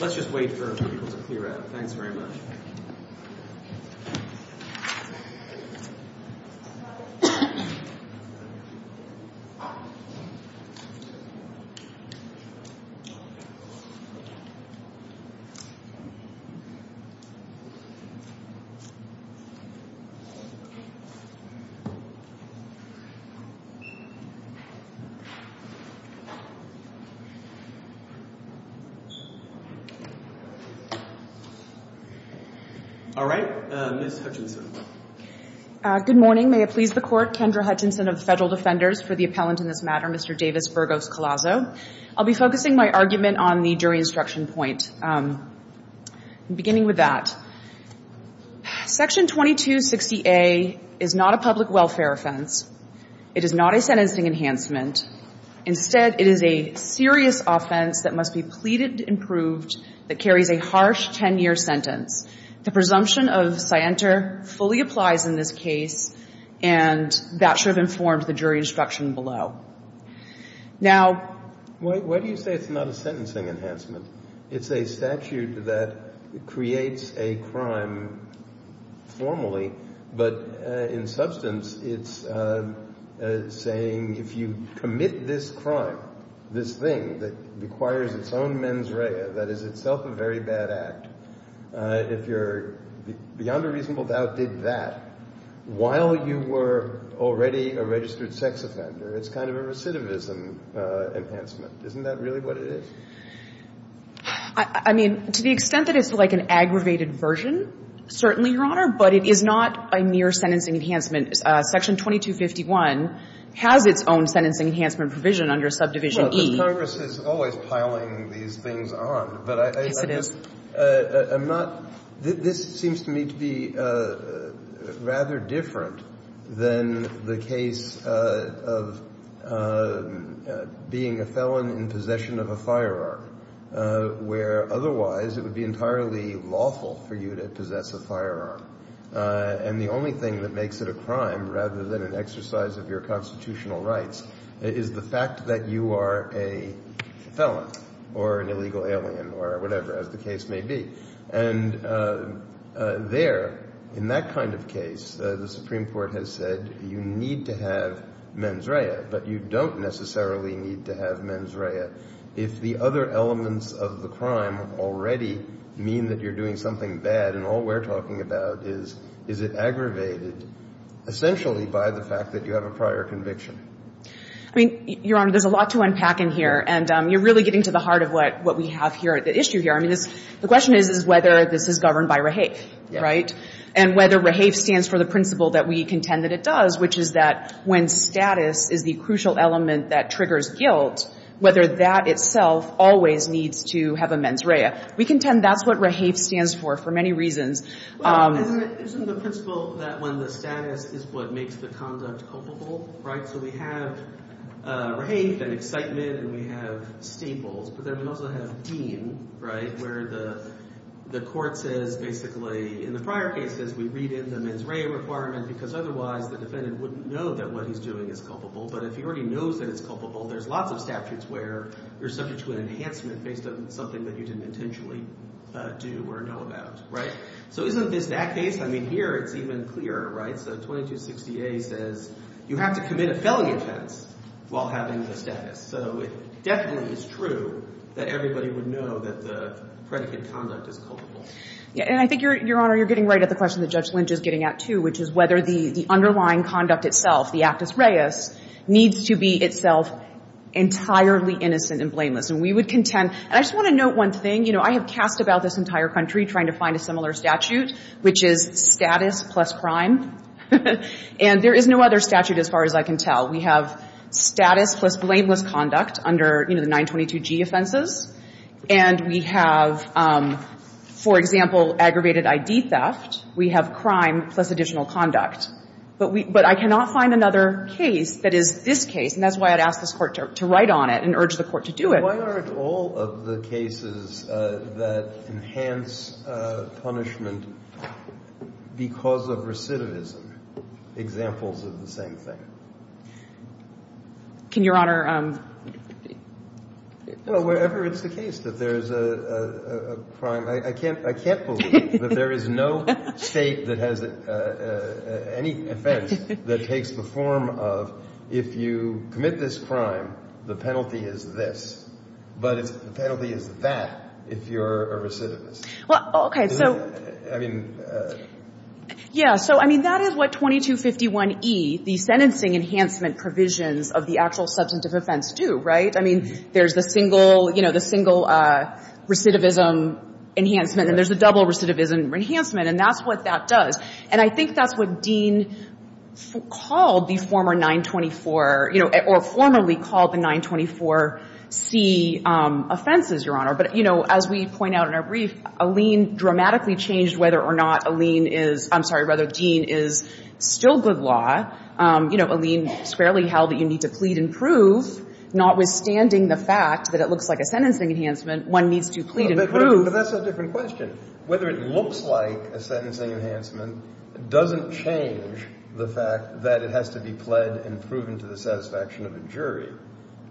Let's just wait for people to clear out. Thanks very much. All right. Ms. Hutchinson. Good morning. May it please the Court, Kendra Hutchinson of the Federal Defenders for the appellant in this matter, Mr. Davis Burgos-Collazo. I'll be focusing my argument on the jury instruction point. Beginning with that, Section 2260A is not a public welfare offense. It is not a sentencing enhancement. Instead, it is a serious offense that must be pleaded and proved that carries a harsh 10-year sentence. The presumption of scienter fully applies in this case, and that should have informed the jury instruction below. Now, why do you say it's not a sentencing enhancement? It's a statute that creates a crime formally, but in substance, it's saying if you commit this crime, this thing that requires its own mens rea, that is itself a very bad act, if you're beyond a reasonable doubt did that while you were already a registered sex offender, it's kind of a criminal offense. It's not a sentencing enhancement. It's not an aggravated version of a recidivism enhancement. Isn't that really what it is? I mean, to the extent that it's like an aggravated version, certainly, Your Honor, but it is not a mere sentencing enhancement. Section 2251 has its own sentencing enhancement provision under Subdivision E. Well, but Congress is always piling these things on. Yes, it is. But I'm not – this seems to me to be rather different than the case of being a felon in possession of a firearm, where otherwise it would be entirely lawful for you to possess a firearm. And the only thing that makes it a crime rather than an exercise of your constitutional rights is the fact that you are a felon or an illegal alien or whatever, as the case may be. And there, in that kind of case, the Supreme Court has said you need to have mens rea, but you don't necessarily need to have mens rea if the other elements of the crime already mean that you're doing something bad. And all we're talking about is, is it aggravated essentially by the fact that you have a prior conviction? I mean, Your Honor, there's a lot to unpack in here. And you're really getting to the heart of what we have here, the issue here. I mean, this – the question is, is whether this is governed by REHAFE, right? Yes. And whether REHAFE stands for the principle that we contend that it does, which is that when status is the crucial element that triggers guilt, whether that itself always needs to have a mens rea. We contend that's what REHAFE stands for for many reasons. Isn't the principle that when the status is what makes the conduct culpable, right? So we have REHAFE and excitement and we have staples, but then we also have deem, right, where the court says basically in the prior cases we read in the mens rea requirement because otherwise the defendant wouldn't know that what he's doing is culpable. But if he already knows that it's culpable, there's lots of statutes where you're subject to an enhancement based on something that you didn't intentionally do or know about, right? So isn't this that case? I mean, here it's even clearer, right? So 2260A says you have to commit a felony offense while having the status. So it definitely is true that everybody would know that the predicate conduct is culpable. And I think, Your Honor, you're getting right at the question that Judge Lynch is getting at, too, which is whether the underlying conduct itself, the actus reus, needs to be itself entirely innocent and blameless. And we would contend. And I just want to note one thing. You know, I have cast about this entire country trying to find a similar statute, which is status plus crime. And there is no other statute as far as I can tell. We have status plus blameless conduct under, you know, the 922G offenses. And we have, for example, aggravated I.D. theft. We have crime plus additional conduct. But I cannot find another case that is this case. And that's why I'd ask this Court to write on it and urge the Court to do it. Why aren't all of the cases that enhance punishment because of recidivism examples of the same thing? Can Your Honor ---- Well, wherever it's the case that there's a crime, I can't believe that there is no state that has any offense that takes the form of, if you commit this crime, the penalty is this. But the penalty is that if you're a recidivist. Okay. I mean ---- Yeah. So, I mean, that is what 2251E, the sentencing enhancement provisions of the actual substantive offense do, right? I mean, there's the single, you know, the single recidivism enhancement. And there's a double recidivism enhancement. And that's what that does. And I think that's what Dean called the former 924, you know, or formerly called the 924C offenses, Your Honor. But, you know, as we point out in our brief, Alene dramatically changed whether or not Alene is ---- I'm sorry, rather Dean is still good law. You know, Alene squarely held that you need to plead and prove, notwithstanding the fact that it looks like a sentencing enhancement, one needs to plead and prove. But that's a different question. Whether it looks like a sentencing enhancement doesn't change the fact that it has to be pled and proven to the satisfaction of a jury.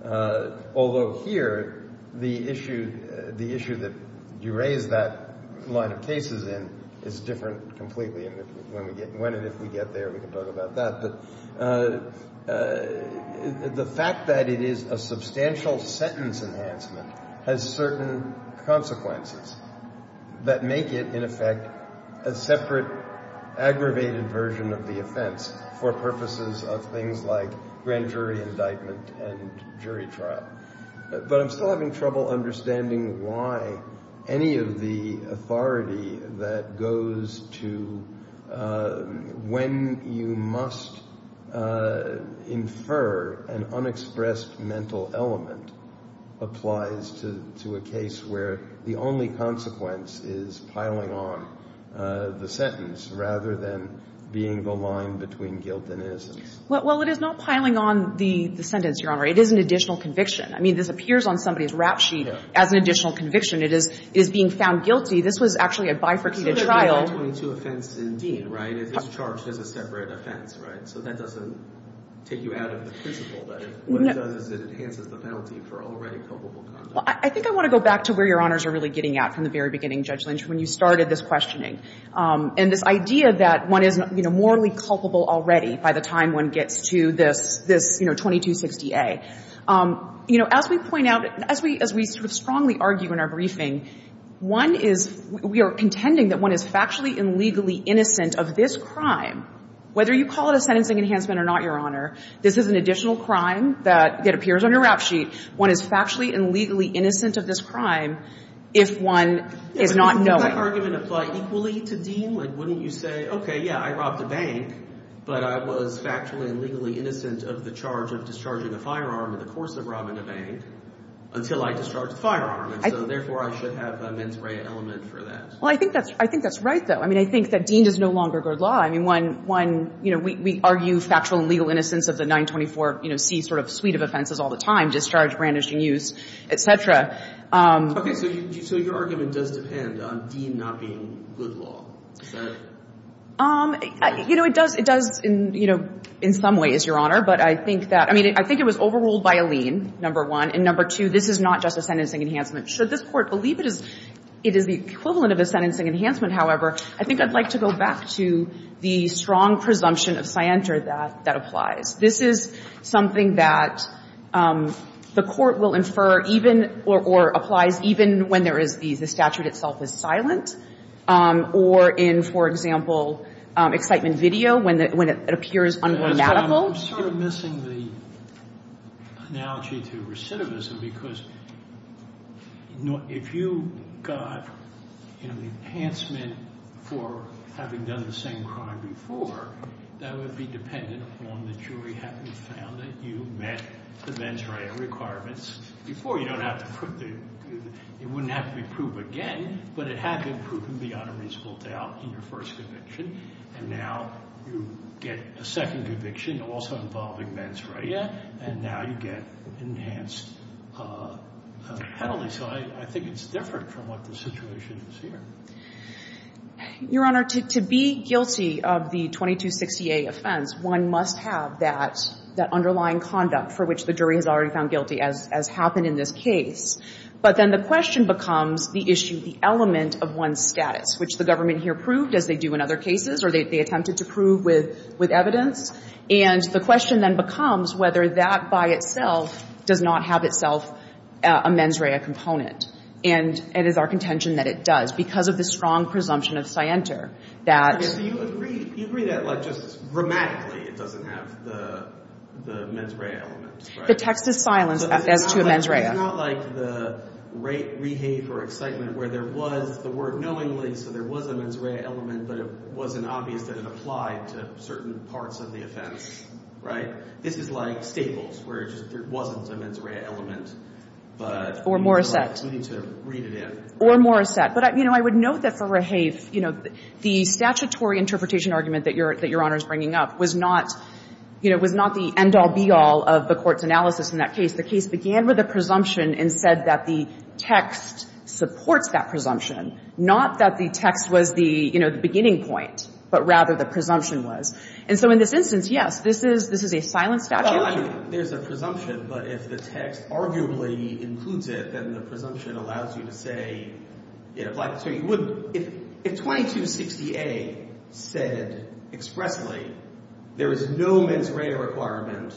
Although here, the issue that you raise that line of cases in is different completely. And when and if we get there, we can talk about that. But the fact that it is a substantial sentence enhancement has certain consequences that make it, in effect, a separate, aggravated version of the offense for purposes of things like grand jury indictment and jury trial. But I'm still having trouble understanding why any of the authority that goes to when you must infer an unexpressed mental element applies to a case where the only consequence is piling on the sentence rather than being the line between guilt and innocence. Well, it is not piling on the sentence, Your Honor. It is an additional conviction. I mean, this appears on somebody's rap sheet as an additional conviction. It is being found guilty. This was actually a bifurcated trial. So it's only a 22 offense in Dean, right? It's charged as a separate offense, right? So that doesn't take you out of the principle. But what it does is it enhances the penalty for already culpable conduct. Well, I think I want to go back to where Your Honors are really getting at from the very beginning, Judge Lynch, when you started this morally culpable already by the time one gets to this, you know, 2260A. You know, as we point out, as we sort of strongly argue in our briefing, one is we are contending that one is factually and legally innocent of this crime, whether you call it a sentencing enhancement or not, Your Honor. This is an additional crime that appears on your rap sheet. One is factually and legally innocent of this crime if one is not knowing. Does that argument apply equally to Dean? Like, wouldn't you say, okay, yeah, I robbed a bank, but I was factually and legally innocent of the charge of discharging a firearm in the course of robbing a bank until I discharged the firearm. And so, therefore, I should have a mens rea element for that. Well, I think that's right, though. I mean, I think that Dean does no longer guard law. I mean, one, you know, we argue factual and legal innocence of the 924C sort of suite of offenses all the time, discharge, brandishing, use, et cetera. Okay. So your argument does depend on Dean not being good law. Is that right? You know, it does in some ways, Your Honor. But I think that – I mean, I think it was overruled by a lien, number one. And number two, this is not just a sentencing enhancement. Should this Court believe it is the equivalent of a sentencing enhancement, however, I think I'd like to go back to the strong presumption of scienter that applies. This is something that the Court will infer even or applies even when there is the statute itself is silent or in, for example, excitement video when it appears ungrammatical. I'm sort of missing the analogy to recidivism because if you got, you know, a sentencing enhancement for having done the same crime before, that would be dependent upon the jury having found that you met the mens rea requirements before. You don't have to – it wouldn't have to be proved again, but it had been proven beyond a reasonable doubt in your first conviction. And now you get a second conviction also involving mens rea, and now you get enhanced penalty. So I think it's different from what the situation is here. Your Honor, to be guilty of the 2260A offense, one must have that underlying conduct for which the jury has already found guilty, as happened in this case. But then the question becomes the issue, the element of one's status, which the government here proved, as they do in other cases, or they attempted to prove with evidence. And the question then becomes whether that by itself does not have itself a mens rea component. And it is our contention that it does because of the strong presumption of scienter that – So you agree that, like, just grammatically it doesn't have the mens rea element, right? The text is silenced as to a mens rea. So it's not like the rate, rehave, or excitement where there was the word knowingly, so there was a mens rea element, but it wasn't obvious that it applied to certain parts of the offense, right? This is like Staples, where it just – there wasn't a mens rea element, but – Or Morissette. We need to read it in. Or Morissette. But, you know, I would note that for rehave, you know, the statutory interpretation argument that Your Honor is bringing up was not, you know, was not the end-all, be-all of the Court's analysis in that case. The case began with a presumption and said that the text supports that presumption, not that the text was the, you know, the beginning point, but rather the presumption was. And so in this instance, yes, this is – this is a silenced statute. Well, I mean, there's a presumption, but if the text arguably includes it, then the presumption allows you to say it applied. So you wouldn't – if 2260A said expressly there is no mens rea requirement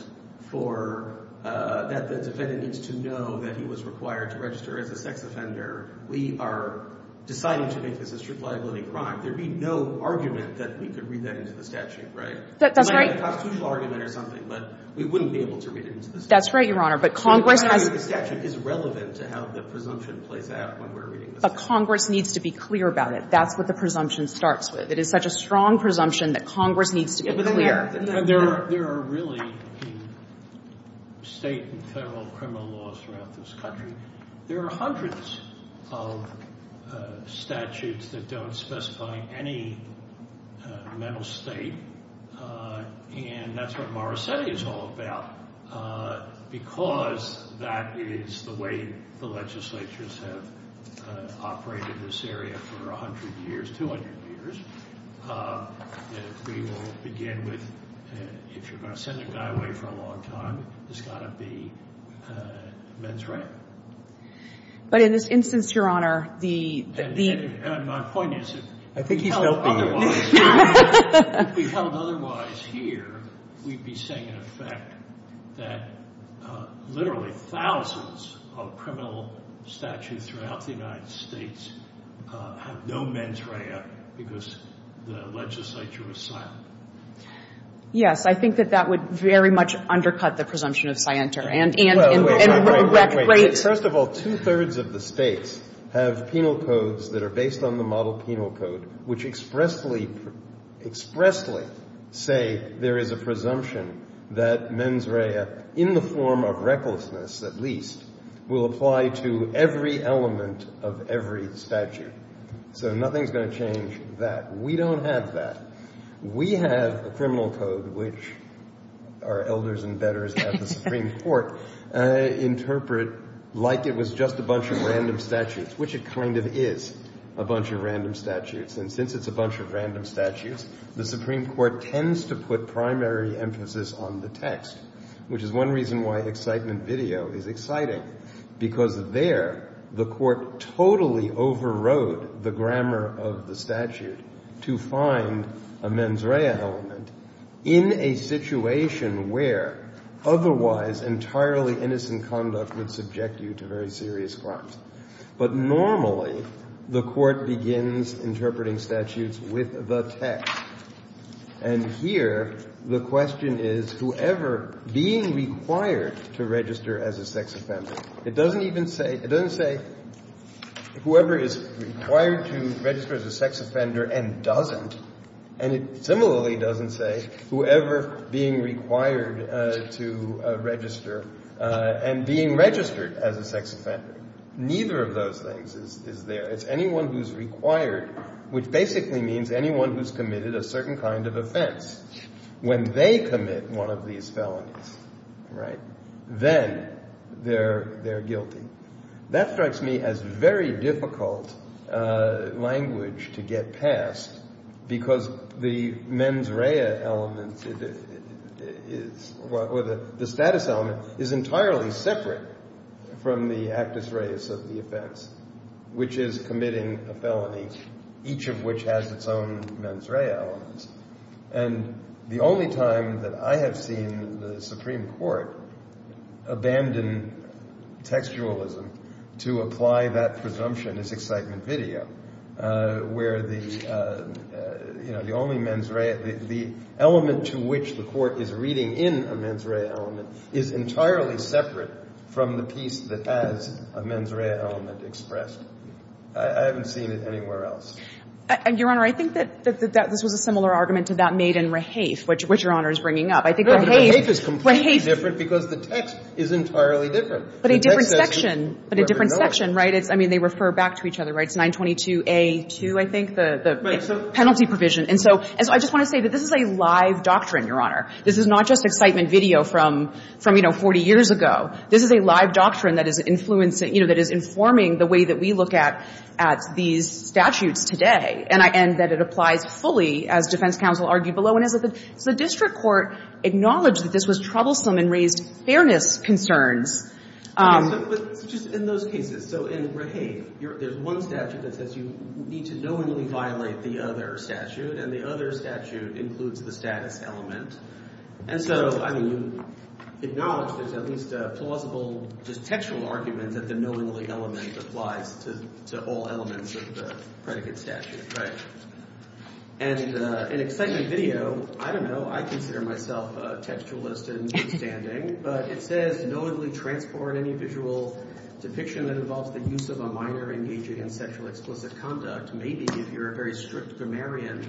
for – that the defendant needs to know that he was required to register as a sex offender, we are deciding to make this a strict liability crime. There would be no argument that we could read that into the statute, right? That's right. It might be a constitutional argument or something, but we wouldn't be able to read it into the statute. That's right, Your Honor. But Congress has – The statute is relevant to how the presumption plays out when we're reading the statute. But Congress needs to be clear about it. That's what the presumption starts with. It is such a strong presumption that Congress needs to be clear. There are really state and federal criminal laws throughout this country. There are hundreds of statutes that don't specify any mental state, and that's what Morosetti is all about because that is the way the legislatures have operated this area for 100 years, 200 years. We will begin with, if you're going to send a guy away for a long time, it's got to be mens rea. But in this instance, Your Honor, the – And my point is, if we held otherwise here, we'd be saying, in effect, that literally thousands of criminal statutes throughout the United States have no mens rea because the legislature is silent. Yes. I think that that would very much undercut the presumption of scienter. And – Wait, wait, wait. First of all, two-thirds of the states have penal codes that are based on the model penal code, which expressly say there is a presumption that mens rea, in the form of recklessness at least, will apply to every element of every statute. So nothing's going to change that. We don't have that. We have a criminal code, which our elders and betters at the Supreme Court interpret like it was just a bunch of random statutes, which it kind of is a bunch of random statutes. And since it's a bunch of random statutes, the Supreme Court tends to put primary emphasis on the text, which is one reason why excitement video is exciting, because there the court totally overrode the grammar of the statute to find a mens rea element in a situation where otherwise entirely innocent conduct would subject you to very serious crimes. But normally the court begins interpreting statutes with the text. And here the question is whoever being required to register as a sex offender. It doesn't even say – it doesn't say whoever is required to register as a sex offender and doesn't. And it similarly doesn't say whoever being required to register and being registered as a sex offender. Neither of those things is there. It's anyone who's required, which basically means anyone who's committed a certain kind of offense. When they commit one of these felonies, right, then they're guilty. That strikes me as very difficult language to get past, because the mens rea element is – or the status element is entirely separate from the actus reus of the offense, which is committing a felony, each of which has its own mens rea elements. And the only time that I have seen the Supreme Court abandon textualism to apply that presumption is excitement video, where the only mens rea – the element to which the court is reading in a mens rea element is entirely separate from the piece that has a mens rea element expressed. I haven't seen it anywhere else. Your Honor, I think that this was a similar argument to that made in Rehaith, which Your Honor is bringing up. I think Rehaith – Rehaith is completely different because the text is entirely different. But a different section. But a different section, right? I mean, they refer back to each other, right? It's 922A2, I think, the penalty provision. And so I just want to say that this is a live doctrine, Your Honor. This is not just excitement video from, you know, 40 years ago. This is a live doctrine that is influencing – you know, that is informing the way that we look at these statutes today, and that it applies fully, as defense counsel argued below. So the district court acknowledged that this was troublesome and raised fairness concerns. But just in those cases. So in Rehaith, there's one statute that says you need to knowingly violate the other statute, and the other statute includes the status element. And so, I mean, you acknowledge there's at least a plausible, just textual argument that the knowingly element applies to all elements of the predicate statute, right? And in excitement video, I don't know, I consider myself a textualist in standing, but it says knowingly transport any visual depiction that involves the use of a minor engaging in sexual explicit conduct. Maybe if you're a very strict grammarian,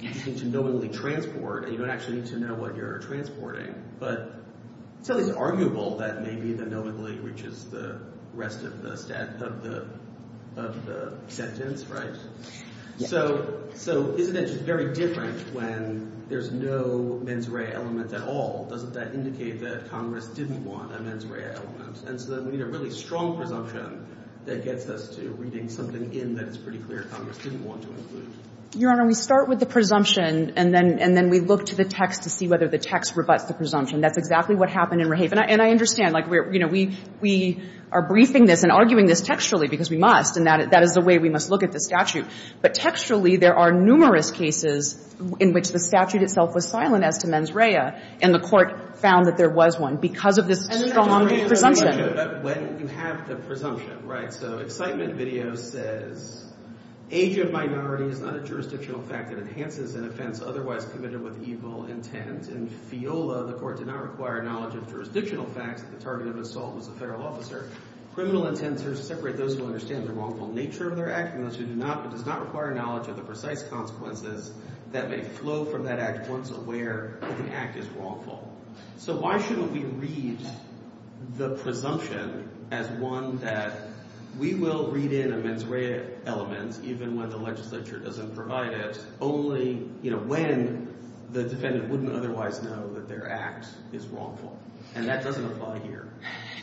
you need to knowingly transport, and you don't actually need to know what you're transporting. But it's at least arguable that maybe the knowingly, which is the rest of the sentence, right? So isn't it just very different when there's no mens rea element at all? Doesn't that indicate that Congress didn't want a mens rea element? And so then we need a really strong presumption that gets us to reading something in that it's pretty clear Congress didn't want to include. Your Honor, we start with the presumption, and then we look to the text to see whether the text rebuts the presumption. That's exactly what happened in Rehaith. And I understand, like, you know, we are briefing this and arguing this textually because we must, and that is the way we must look at the statute. But textually, there are numerous cases in which the statute itself was silent as to mens rea, and the Court found that there was one because of this strong presumption. But when you have the presumption, right? So excitement video says age of minority is not a jurisdictional fact that enhances an offense otherwise committed with evil intent. In Fiola, the Court did not require knowledge of jurisdictional facts. The target of assault was a federal officer. Criminal intents are to separate those who understand the wrongful nature of their act from those who do not, but does not require knowledge of the precise consequences that may flow from that act once aware that the act is wrongful. So why shouldn't we read the presumption as one that we will read in a mens rea element even when the legislature doesn't provide it, only, you know, when the defendant wouldn't otherwise know that their act is wrongful? And that doesn't apply here.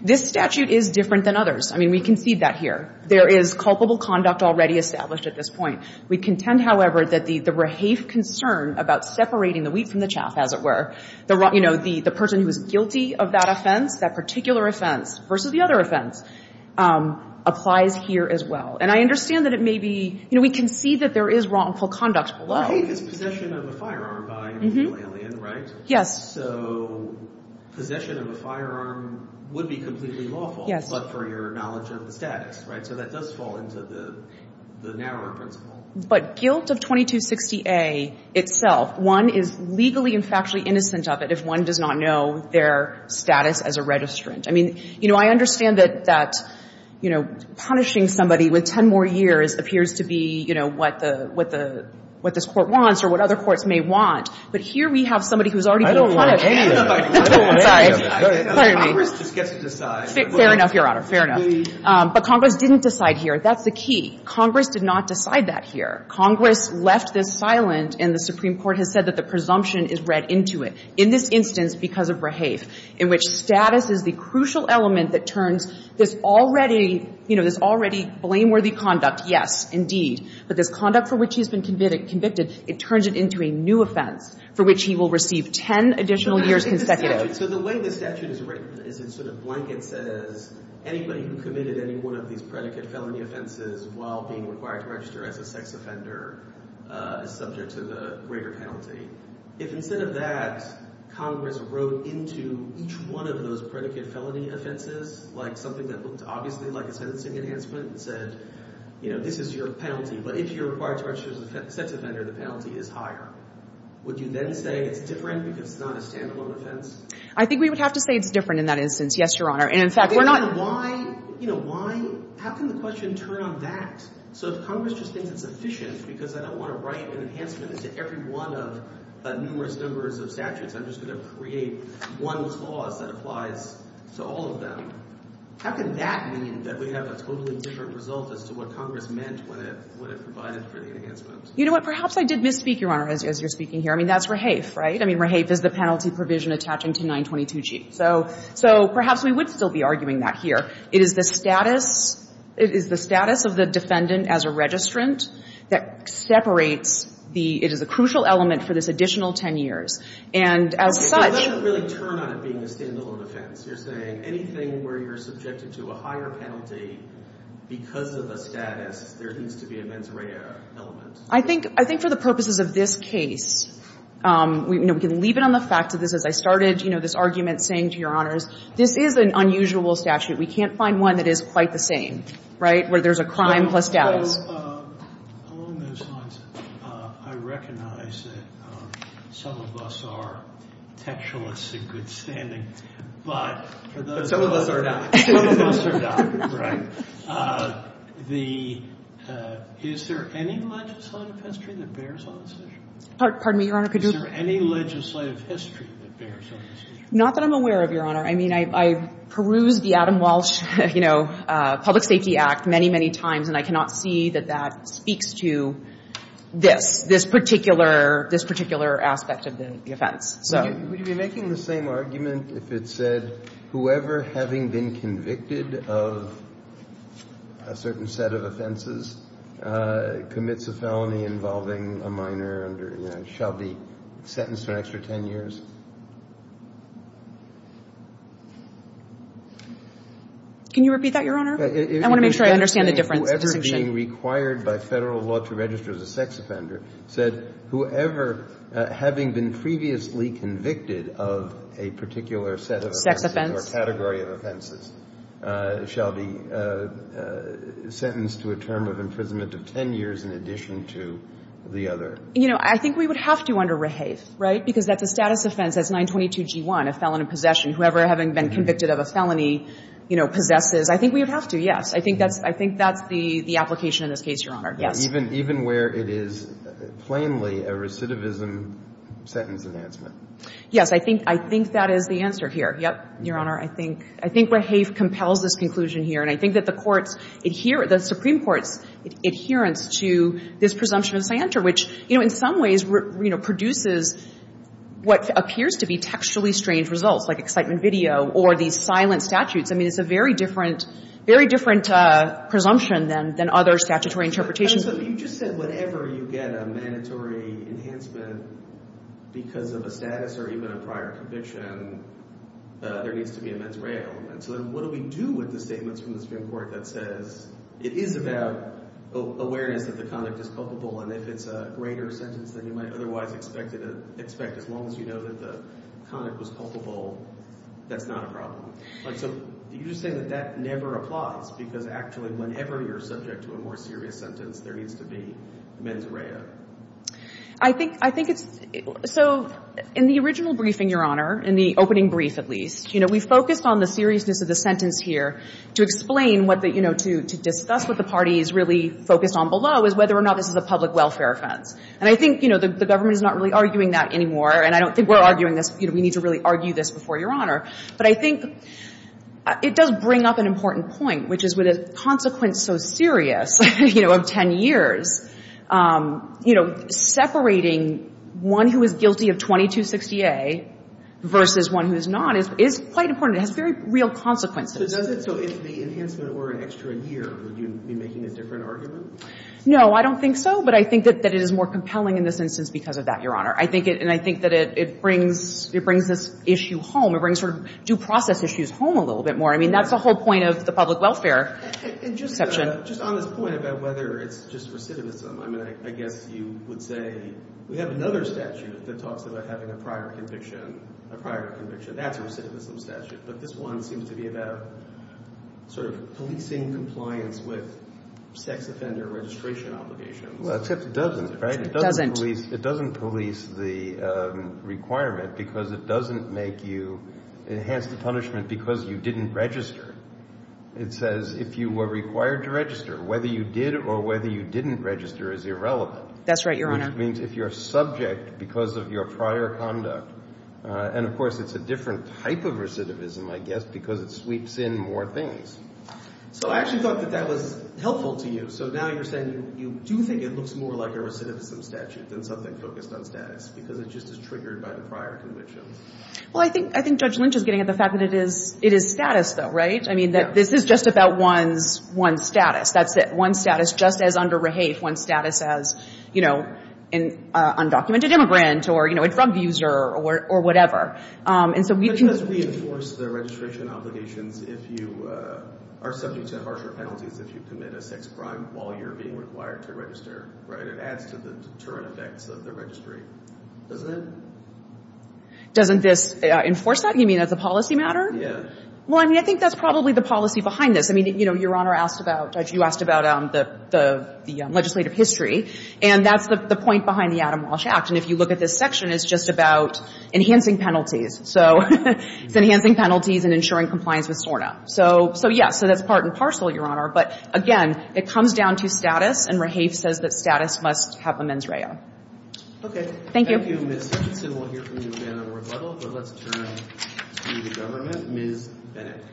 This statute is different than others. I mean, we can see that here. There is culpable conduct already established at this point. We contend, however, that the Rahafe concern about separating the wheat from the chaff, as it were, you know, the person who is guilty of that offense, that particular offense versus the other offense, applies here as well. And I understand that it may be, you know, we can see that there is wrongful conduct below. But guilt is possession of a firearm by an illegal alien, right? Yes. So possession of a firearm would be completely lawful. Yes. But for your knowledge of the status, right? So that does fall into the narrower principle. But guilt of 2260A itself, one is legally and factually innocent of it if one does not know their status as a registrant. I mean, you know, I understand that, you know, punishing somebody with 10 more years appears to be, you know, what the – what this Court wants or what other courts may want. But here we have somebody who has already been punished. I don't want any of that. I'm sorry. Congress just gets to decide. Fair enough, Your Honor. Fair enough. But Congress didn't decide here. That's the key. Congress did not decide that here. Congress left this silent, and the Supreme Court has said that the presumption is read into it. In this instance, because of Rahafe, in which status is the crucial element that turns this already – you know, this already blameworthy conduct, yes, indeed, but this conduct for which he's been convicted, it turns it into a new offense for which he will receive 10 additional years consecutive. So the way the statute is written is it sort of blankets as anybody who committed any one of these predicate felony offenses while being required to register as a sex offender is subject to the greater penalty. If instead of that, Congress wrote into each one of those predicate felony offenses like something that looked obviously like a sentencing enhancement and said, you know, this is your penalty, but if you're required to register as a sex offender, the penalty is higher, would you then say it's different because it's not a stand-alone offense? I think we would have to say it's different in that instance, yes, Your Honor. And, in fact, we're not – Why – you know, why – how can the question turn on that? So if Congress just thinks it's efficient because I don't want to write an enhancement to every one of numerous numbers of statutes, I'm just going to create one clause that applies to all of them, how can that mean that we have a totally different result as to what Congress meant when it provided for the enhancement? You know what? Perhaps I did misspeak, Your Honor, as you're speaking here. I mean, that's rehafe, right? I mean, rehafe is the penalty provision attaching to 922G. So perhaps we would still be arguing that here. It is the status – it is the status of the defendant as a registrant that separates the – it is a crucial element for this additional 10 years. And as such – But that doesn't really turn on it being a stand-alone offense. You're saying anything where you're subjected to a higher penalty because of a status, there needs to be a mens rea element. I think – I think for the purposes of this case, you know, we can leave it on the fact that this – as I started, you know, this argument saying to Your Honors, this is an unusual statute. We can't find one that is quite the same, right, where there's a crime plus status. So along those lines, I recognize that some of us are textualists in good standing, but for those of us – But some of us are not. Some of us are not, right. The – is there any legislative history that bears on this issue? Pardon me, Your Honor, could you – Is there any legislative history that bears on this issue? Not that I'm aware of, Your Honor. I mean, I peruse the Adam Walsh, you know, Public Safety Act many, many times, and I cannot see that that speaks to this, this particular – this particular aspect of the offense, so. Would you be making the same argument if it said whoever having been convicted of a certain set of offenses commits a felony involving a minor under – shall be sentenced for an extra 10 years? Can you repeat that, Your Honor? I want to make sure I understand the difference, the distinction. Whoever being required by Federal law to register as a sex offender said whoever having been previously convicted of a particular set of offenses – Sex offense. Or category of offenses shall be sentenced to a term of imprisonment of 10 years in addition to the other. You know, I think we would have to under rehave, right, because that's a status offense. That's 922G1, a felon in possession. Whoever having been convicted of a felony, you know, possesses. I think we would have to, yes. I think that's – I think that's the application in this case, Your Honor. Yes. Even where it is plainly a recidivism sentence enhancement. Yes. I think – I think that is the answer here. Yep, Your Honor. I think – I think rehave compels this conclusion here, and I think that the courts adhere – the Supreme Court's adherence to this presumption of scienter, which, you know, in some ways, you know, produces what appears to be textually strange results, like excitement video or these silent statutes. I mean, it's a very different – very different presumption than other statutory interpretations. And so you just said whatever you get a mandatory enhancement because of a status or even a prior conviction, there needs to be a mens rea element. So then what do we do with the statements from the Supreme Court that says it is about awareness that the conduct is culpable, and if it's a greater sentence than you might otherwise expect as long as you know that the conduct was culpable, that's not a problem? So you're just saying that that never applies because actually whenever you're subject to a more serious sentence, there needs to be mens rea. I think – I think it's – so in the original briefing, Your Honor, in the opening brief at least, you know, we focused on the seriousness of the sentence here to explain what the – you know, to discuss what the parties really focused on below is whether or not this is a public welfare offense. And I think, you know, the government is not really arguing that anymore, and I don't think we're arguing this. You know, we need to really argue this before Your Honor. But I think it does bring up an important point, which is with a consequence so serious, you know, of 10 years, you know, separating one who is guilty of 2260A versus one who is not is quite important. It has very real consequences. So does it – so if the enhancement were an extra year, would you be making a different argument? No, I don't think so. But I think that it is more compelling in this instance because of that, Your Honor. I think it – and I think that it brings – it brings this issue home. It brings sort of due process issues home a little bit more. I mean, that's the whole point of the public welfare exception. And just on this point about whether it's just recidivism, I mean, I guess you would say we have another statute that talks about having a prior conviction – a prior conviction. That's a recidivism statute. But this one seems to be about sort of policing compliance with sex offender registration obligations. Well, except it doesn't, right? It doesn't. It doesn't police the requirement because it doesn't make you enhance the punishment because you didn't register. It says if you were required to register, whether you did or whether you didn't register is irrelevant. That's right, Your Honor. Which means if you're subject because of your prior conduct – and of course, it's a different type of recidivism, I guess, because it sweeps in more things. So I actually thought that that was helpful to you. So now you're saying you do think it looks more like a recidivism statute than something focused on status because it just is triggered by the prior conviction. Well, I think – I think Judge Lynch is getting at the fact that it is – it is status, though, right? Yeah. I mean, that this is just about one's – one's status. That's it. One's status just as under rehafe, one's status as, you know, an undocumented immigrant or, you know, a drug user or whatever. And so we – But you must reinforce the registration obligations if you are subject to harsher penalties if you commit a sex crime while you're being required to register, right? It adds to the deterrent effects of the registry, doesn't it? Doesn't this enforce that? You mean as a policy matter? Yeah. Well, I mean, I think that's probably the policy behind this. I mean, you know, Your Honor asked about – you asked about the legislative history, and that's the point behind the Adam Walsh Act. And if you look at this section, it's just about enhancing penalties. So it's enhancing penalties and ensuring compliance with SORNA. So – so, yeah. So that's part and parcel, Your Honor. But, again, it comes down to status, and rehafe says that status must have emens rea. Okay. Thank you. Thank you, Ms. Hutchinson. We'll hear from you again in rebuttal, but let's turn to the government. Ms. Bennett.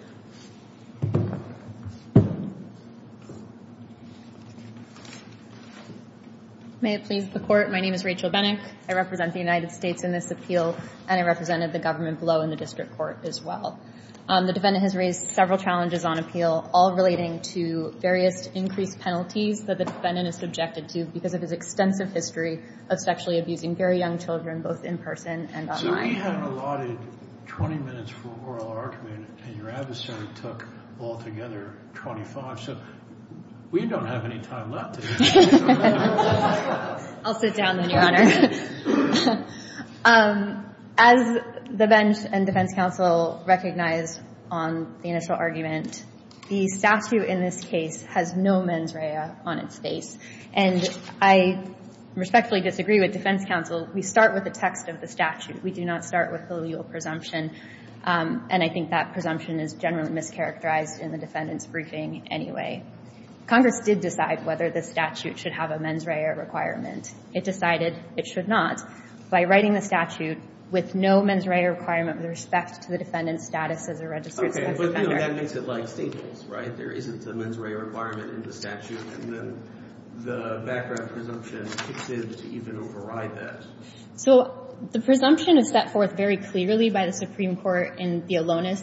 May it please the Court. My name is Rachel Bennett. I represent the United States in this appeal, and I represented the government below in the district court as well. The defendant has raised several challenges on appeal, all relating to various increased penalties that the defendant is subjected to because of his extensive history of sexually abusing very young children, both in person and online. So we had allotted 20 minutes for oral argument, and your adversary took altogether 25. So we don't have any time left. I'll sit down, then, Your Honor. As the bench and defense counsel recognize on the initial argument, the statute in this case has no mens rea on its face. And I respectfully disagree with defense counsel. We start with the text of the statute. We do not start with the legal presumption, and I think that presumption is generally mischaracterized in the defendant's briefing anyway. Congress did decide whether the statute should have a mens rea requirement. It decided it should not by writing the statute with no mens rea requirement with respect to the defendant's status as a registered sex offender. Okay, but, you know, that makes it like Staples, right? There isn't a mens rea requirement in the statute, and then the background presumption exists to even override that. So the presumption is set forth very clearly by the Supreme Court in the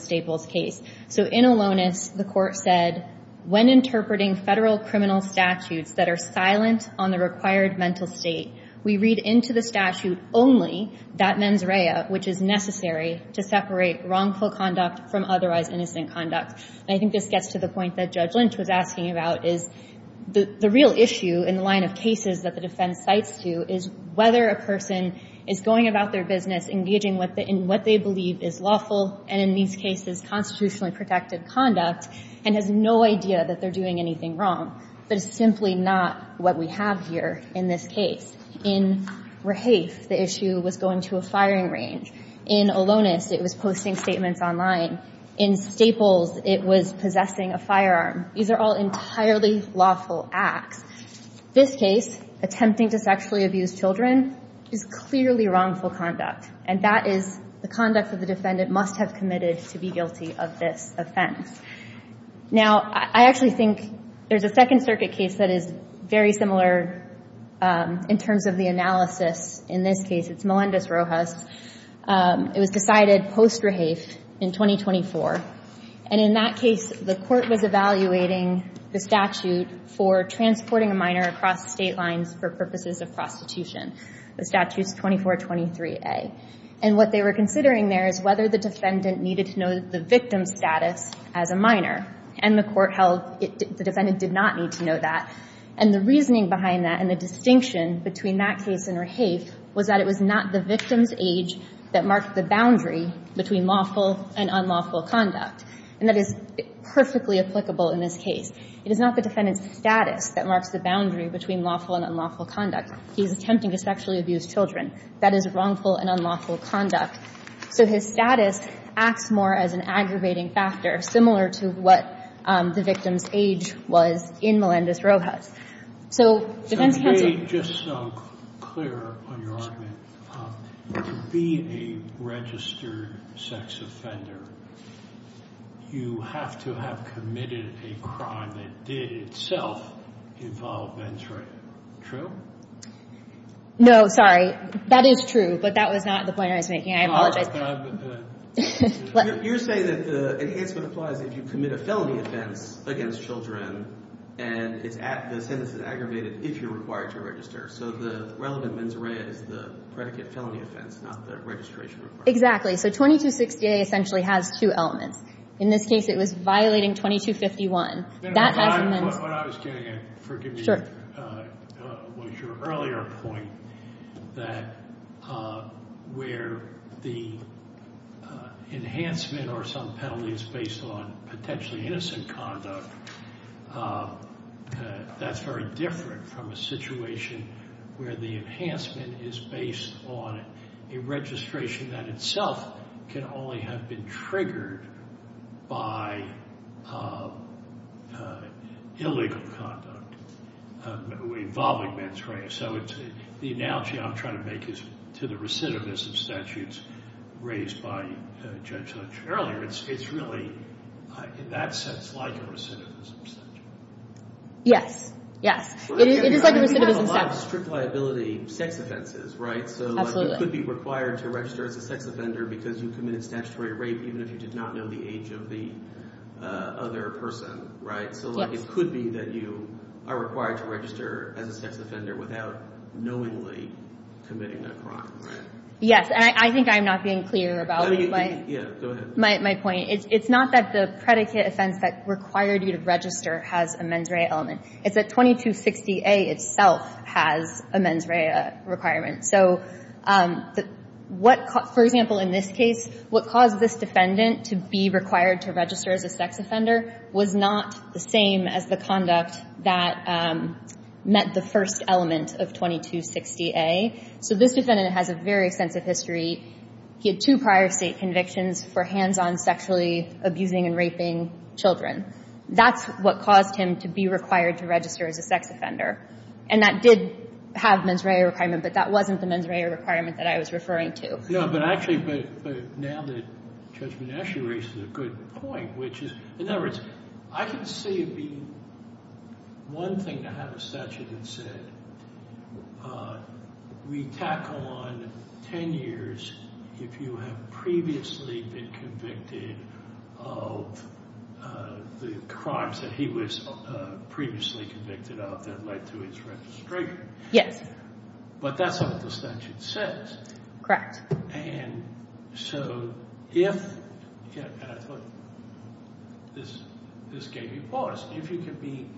Staples case. So in Alonis, the Court said, When interpreting Federal criminal statutes that are silent on the required mental state, we read into the statute only that mens rea, which is necessary to separate wrongful conduct from otherwise innocent conduct. And I think this gets to the point that Judge Lynch was asking about, is the real issue in the line of cases that the defense cites to is whether a person is going about their business engaging in what they believe is lawful, and in these cases constitutionally protected conduct, and has no idea that they're doing anything wrong. But it's simply not what we have here in this case. In Rahafe, the issue was going to a firing range. In Alonis, it was posting statements online. In Staples, it was possessing a firearm. These are all entirely lawful acts. This case, attempting to sexually abuse children, is clearly wrongful conduct, and that is the conduct that the defendant must have committed to be guilty of this Now, I actually think there's a Second Circuit case that is very similar in terms of the analysis in this case. It's Melendez-Rojas. It was decided post-Rahafe in 2024, and in that case, the Court was evaluating the statute for transporting a minor across state lines for purposes of prostitution. The statute is 2423A, and what they were considering there is whether the defendant needed to know the victim's status as a minor, and the Court held the defendant did not need to know that. And the reasoning behind that and the distinction between that case and Rahafe was that it was not the victim's age that marked the boundary between lawful and unlawful conduct, and that is perfectly applicable in this case. It is not the defendant's status that marks the boundary between lawful and unlawful conduct. He's attempting to sexually abuse children. That is wrongful and unlawful conduct. So his status acts more as an aggravating factor, similar to what the victim's age was in Melendez-Rojas. So defense counsel — Just so I'm clear on your argument, to be a registered sex offender, you have to have committed a crime that did itself involve menstruation. True? No, sorry. That is true, but that was not the point I was making. I apologize. You're saying that the enhancement applies if you commit a felony offense against children, and the sentence is aggravated if you're required to register. So the relevant mens rea is the predicate felony offense, not the registration requirement. Exactly. So 2260A essentially has two elements. In this case, it was violating 2251. When I was getting in, forgive me, was your earlier point that where the enhancement or some penalty is based on potentially innocent conduct, that's very different from a situation where the enhancement is based on a registration that itself can only have been triggered by illegal conduct involving menstruation. So the analogy I'm trying to make is to the recidivism statutes raised by Judge earlier. It's really, in that sense, like a recidivism statute. Yes. Yes. It is like a recidivism statute. We have a lot of strict liability sex offenses, right? Absolutely. So it could be required to register as a sex offender because you committed statutory rape, even if you did not know the age of the other person, right? So it could be that you are required to register as a sex offender without knowingly committing a crime, right? Yes. And I think I'm not being clear about it. My point is it's not that the predicate offense that required you to register has a mens rea element. It's that 2260A itself has a mens rea requirement. So what, for example, in this case, what caused this defendant to be required to register as a sex offender was not the same as the conduct that met the first element of 2260A. So this defendant has a very extensive history. He had two prior state convictions for hands-on sexually abusing and raping children. That's what caused him to be required to register as a sex offender. And that did have mens rea requirement, but that wasn't the mens rea requirement that I was referring to. No, but actually now that Judge Monash has raised a good point, which is, in other words, I can see it being one thing to have a statute that said we back on 10 years if you have previously been convicted of the crimes that he was previously convicted of that led to his registration. Yes. But that's what the statute says. Correct. And so if, and I thought this gave you pause, if you can be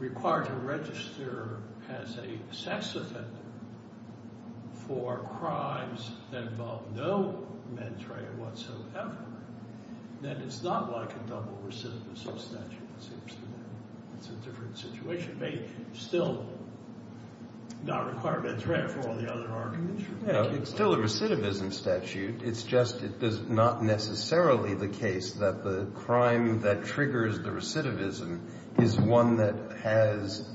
required to register for crimes that involve no mens rea whatsoever, then it's not like a double recidivism statute. It's a different situation. It may still not require mens rea for all the other arguments. It's still a recidivism statute. It's just it's not necessarily the case that the crime that triggers the recidivism is one that has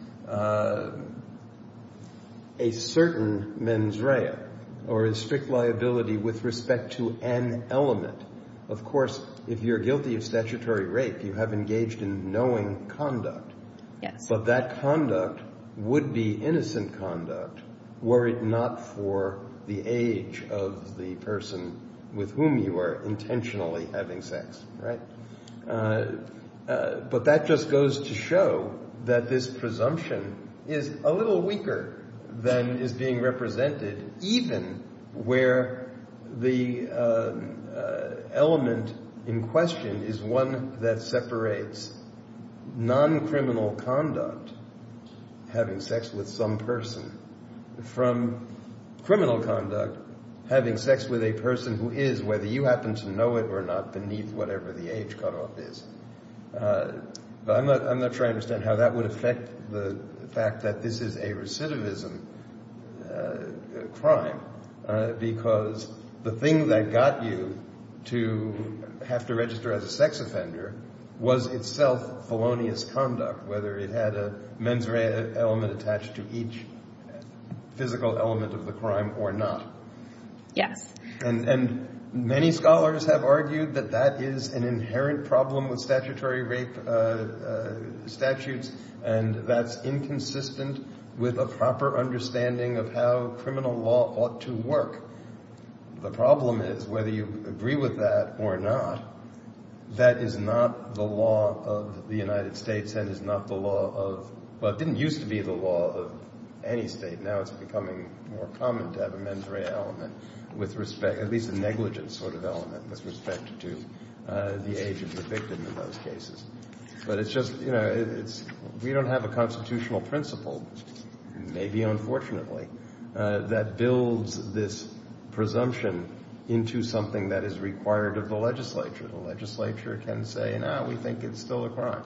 a certain mens rea or a strict liability with respect to an element. Of course, if you're guilty of statutory rape, you have engaged in knowing conduct. Yes. But that conduct would be innocent conduct were it not for the age of the person with whom you are intentionally having sex. Right? But that just goes to show that this presumption is a little weaker than is being represented, even where the element in question is one that separates non-criminal conduct, having sex with some person, from criminal conduct, having sex with a person who is, whether you happen to know it or not, beneath whatever the age cutoff is. But I'm not sure I understand how that would affect the fact that this is a recidivism crime, because the thing that got you to have to register as a sex offender was itself felonious conduct, whether it had a mens rea element attached to each physical element of the crime or not. Yes. And many scholars have argued that that is an inherent problem with statutory rape statutes, and that's inconsistent with a proper understanding of how criminal law ought to work. The problem is, whether you agree with that or not, that is not the law of the United States and is not the law of, well, it didn't used to be the law of any state. Now it's becoming more common to have a mens rea element with respect, at least a negligent sort of element with respect to the age of the victim in those cases. But it's just, you know, we don't have a constitutional principle, maybe unfortunately, that builds this presumption into something that is required of the legislature. The legislature can say, no, we think it's still a crime.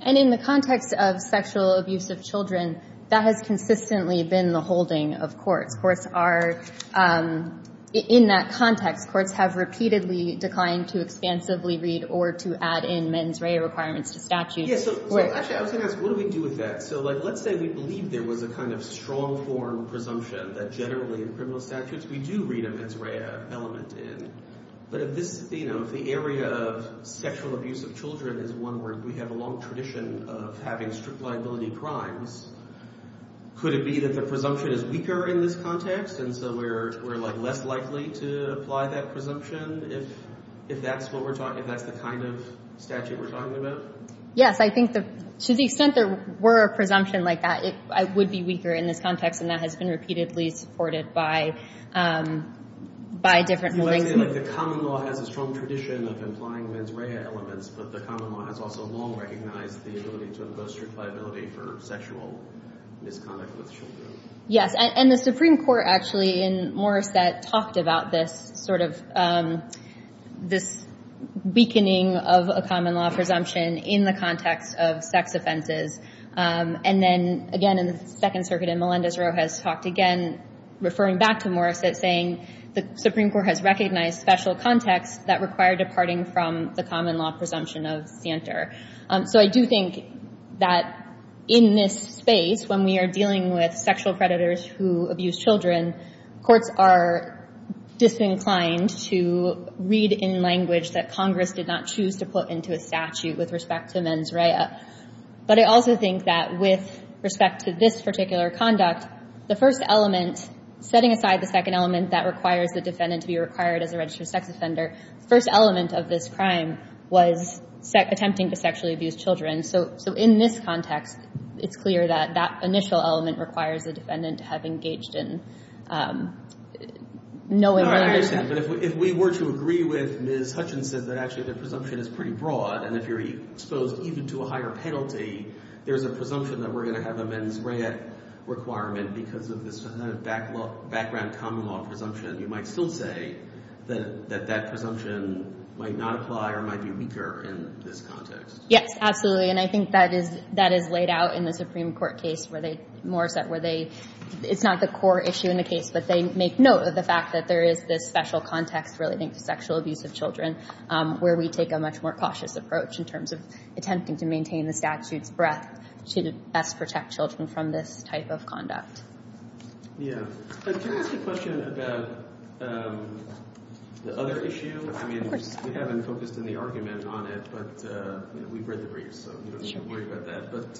And in the context of sexual abuse of children, that has consistently been the holding of courts. Courts are, in that context, courts have repeatedly declined to expansively read or to add in mens rea requirements to statutes. Yes. Actually, I was going to ask, what do we do with that? So, like, let's say we believe there was a kind of strong form presumption that generally in criminal statutes we do read a mens rea element in. But if this, you know, if the area of sexual abuse of children is one where we have a long tradition of having strict liability crimes, could it be that the presumption is weaker in this context? And so we're, like, less likely to apply that presumption if that's what we're talking, if that's the kind of statute we're talking about? Yes. I think to the extent there were a presumption like that, it would be weaker in this context, and that has been repeatedly supported by different rulings. You want to say, like, the common law has a strong tradition of implying mens rea elements, but the common law has also long recognized the ability to impose strict liability for sexual misconduct with children. Yes. And the Supreme Court, actually, in Morrissette, talked about this sort of this weakening of a common law presumption in the context of sex offenses. And then, again, in the Second Circuit, and Melendez-Roe has talked again, referring back to Morrissette, saying the Supreme Court has recognized special contexts that require departing from the common law presumption of santer. So I do think that in this space, when we are dealing with sexual predators who abuse children, courts are disinclined to read in language that Congress did not choose to put into a statute with respect to mens rea. But I also think that with respect to this particular conduct, the first element, setting aside the second element that requires the defendant to be required as a registered sex offender, the first element of this crime was attempting to sexually abuse children. So in this context, it's clear that that initial element requires the defendant to have engaged in no immolation. No, I understand. But if we were to agree with Ms. Hutchinson that actually the presumption is pretty broad, and if you're exposed even to a higher penalty, there's a presumption that we're going to have a mens rea requirement because of this background common law presumption. You might still say that that presumption might not apply or might be weaker in this context. Yes, absolutely. And I think that is laid out in the Supreme Court case where they, Morrissette, where they, it's not the core issue in the case, but they make note of the fact that there is this special context relating to sexual abuse of children where we take a much more cautious approach in terms of attempting to maintain the statute's breadth to best protect children from this type of conduct. Yeah. Can I ask a question about the other issue? Of course. I mean, we haven't focused in the argument on it, but we've read the brief, so we don't need to worry about that. But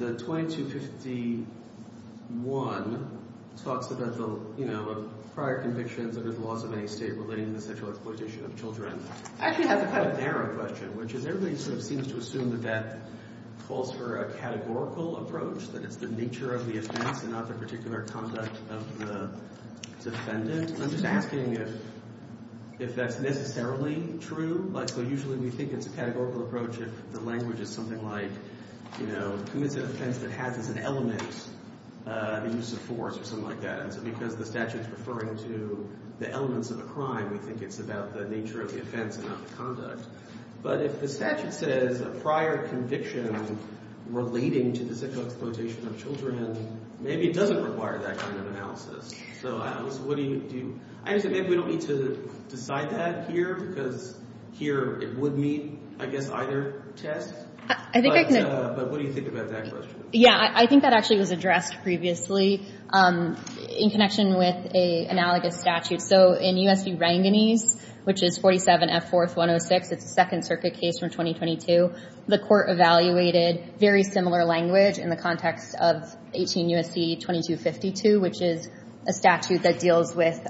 the 2251 talks about the, you know, prior convictions under the laws of any state relating to the sexual exploitation of children. I actually have a question. I have a narrow question, which is everybody sort of seems to assume that that calls for a categorical approach, that it's the nature of the offense and not the particular conduct of the defendant. I'm just asking if that's necessarily true. Like, so usually we think it's a categorical approach if the language is something like, you know, who is an offense that has as an element the use of force or something like that. So because the statute is referring to the elements of a crime, we think it's about the nature of the offense and not the conduct. But if the statute says a prior conviction relating to the sexual exploitation of children, maybe it doesn't require that kind of analysis. So what do you do? Actually, maybe we don't need to decide that here because here it would meet, I guess, either test. But what do you think about that question? Yeah, I think that actually was addressed previously. In connection with an analogous statute. So in U.S. v. Ranganese, which is 47 F. 4th 106, it's a Second Circuit case from 2022, the court evaluated very similar language in the context of 18 U.S.C. 2252, which is a statute that deals with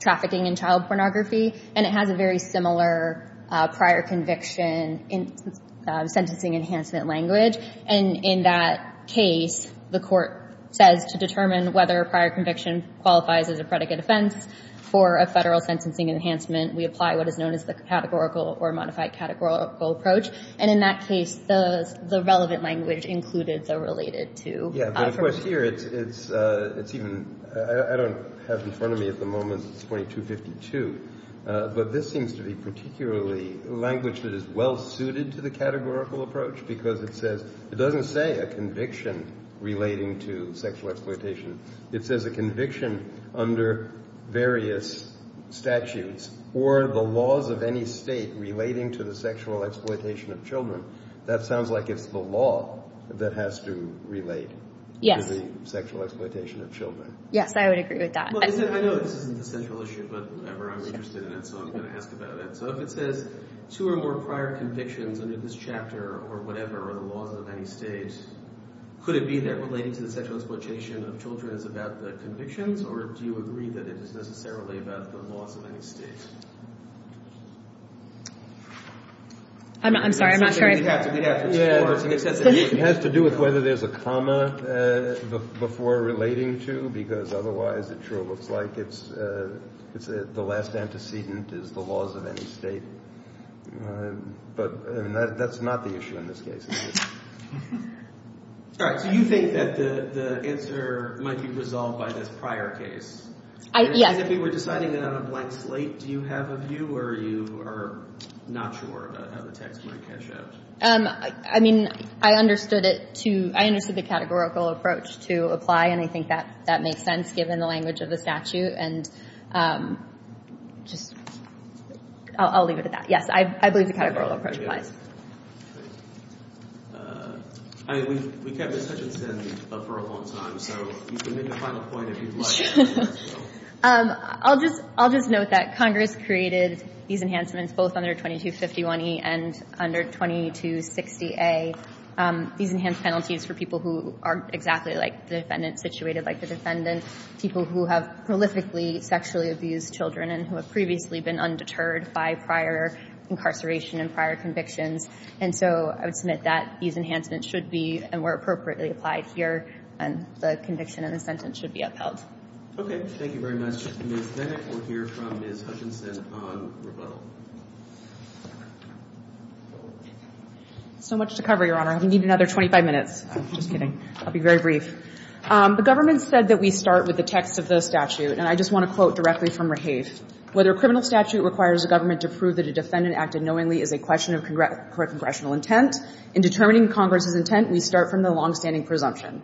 trafficking and child pornography. And it has a very similar prior conviction sentencing enhancement language. And in that case, the court says to determine whether a prior conviction qualifies as a predicate offense for a federal sentencing enhancement, we apply what is known as the categorical or modified categorical approach. And in that case, the relevant language included the related to. Yeah, but of course here it's even, I don't have in front of me at the moment, it's 2252. But this seems to be particularly language that is well suited to the categorical approach because it says, it doesn't say a conviction relating to sexual exploitation. It says a conviction under various statutes or the laws of any state relating to the sexual exploitation of children. That sounds like it's the law that has to relate to the sexual exploitation of children. Yes, I would agree with that. I know this isn't a central issue, but I'm interested in it, so I'm going to ask about it. So if it says two or more prior convictions under this chapter or whatever, or the laws of any state, could it be that relating to the sexual exploitation of children is about the convictions, or do you agree that it is necessarily about the laws of any state? I'm sorry, I'm not sure. It has to do with whether there's a comma before relating to, because otherwise it sure looks like it's the last antecedent is the laws of any state. But that's not the issue in this case. All right. So you think that the answer might be resolved by this prior case. Yes. If we were deciding it on a blank slate, do you have a view, or are you not sure about how the text might cash out? I mean, I understood it to, I understood the categorical approach to apply, and I think that makes sense given the language of the statute, and just I'll leave it at that. Yes, I believe the categorical approach applies. I mean, we kept this sentence in for a long time, so you can make a final point if you'd like. I'll just note that Congress created these enhancements both under 2251E and under 2260A, these enhanced penalties for people who are exactly like the defendant, situated like the defendant, people who have prolifically sexually abused children and who have previously been undeterred by prior incarceration and prior convictions. And so I would submit that these enhancements should be and were appropriately applied here, and the conviction in the sentence should be upheld. Okay. Thank you very much. Ms. Vennick, we'll hear from Ms. Hutchinson on rebuttal. So much to cover, Your Honor. We need another 25 minutes. I'm just kidding. I'll be very brief. The government said that we start with the text of the statute, and I just want to quote directly from Rahaf. Whether a criminal statute requires a government to prove that a defendant acted knowingly is a question of correct congressional intent, in determining Congress's intent, we start from the longstanding presumption,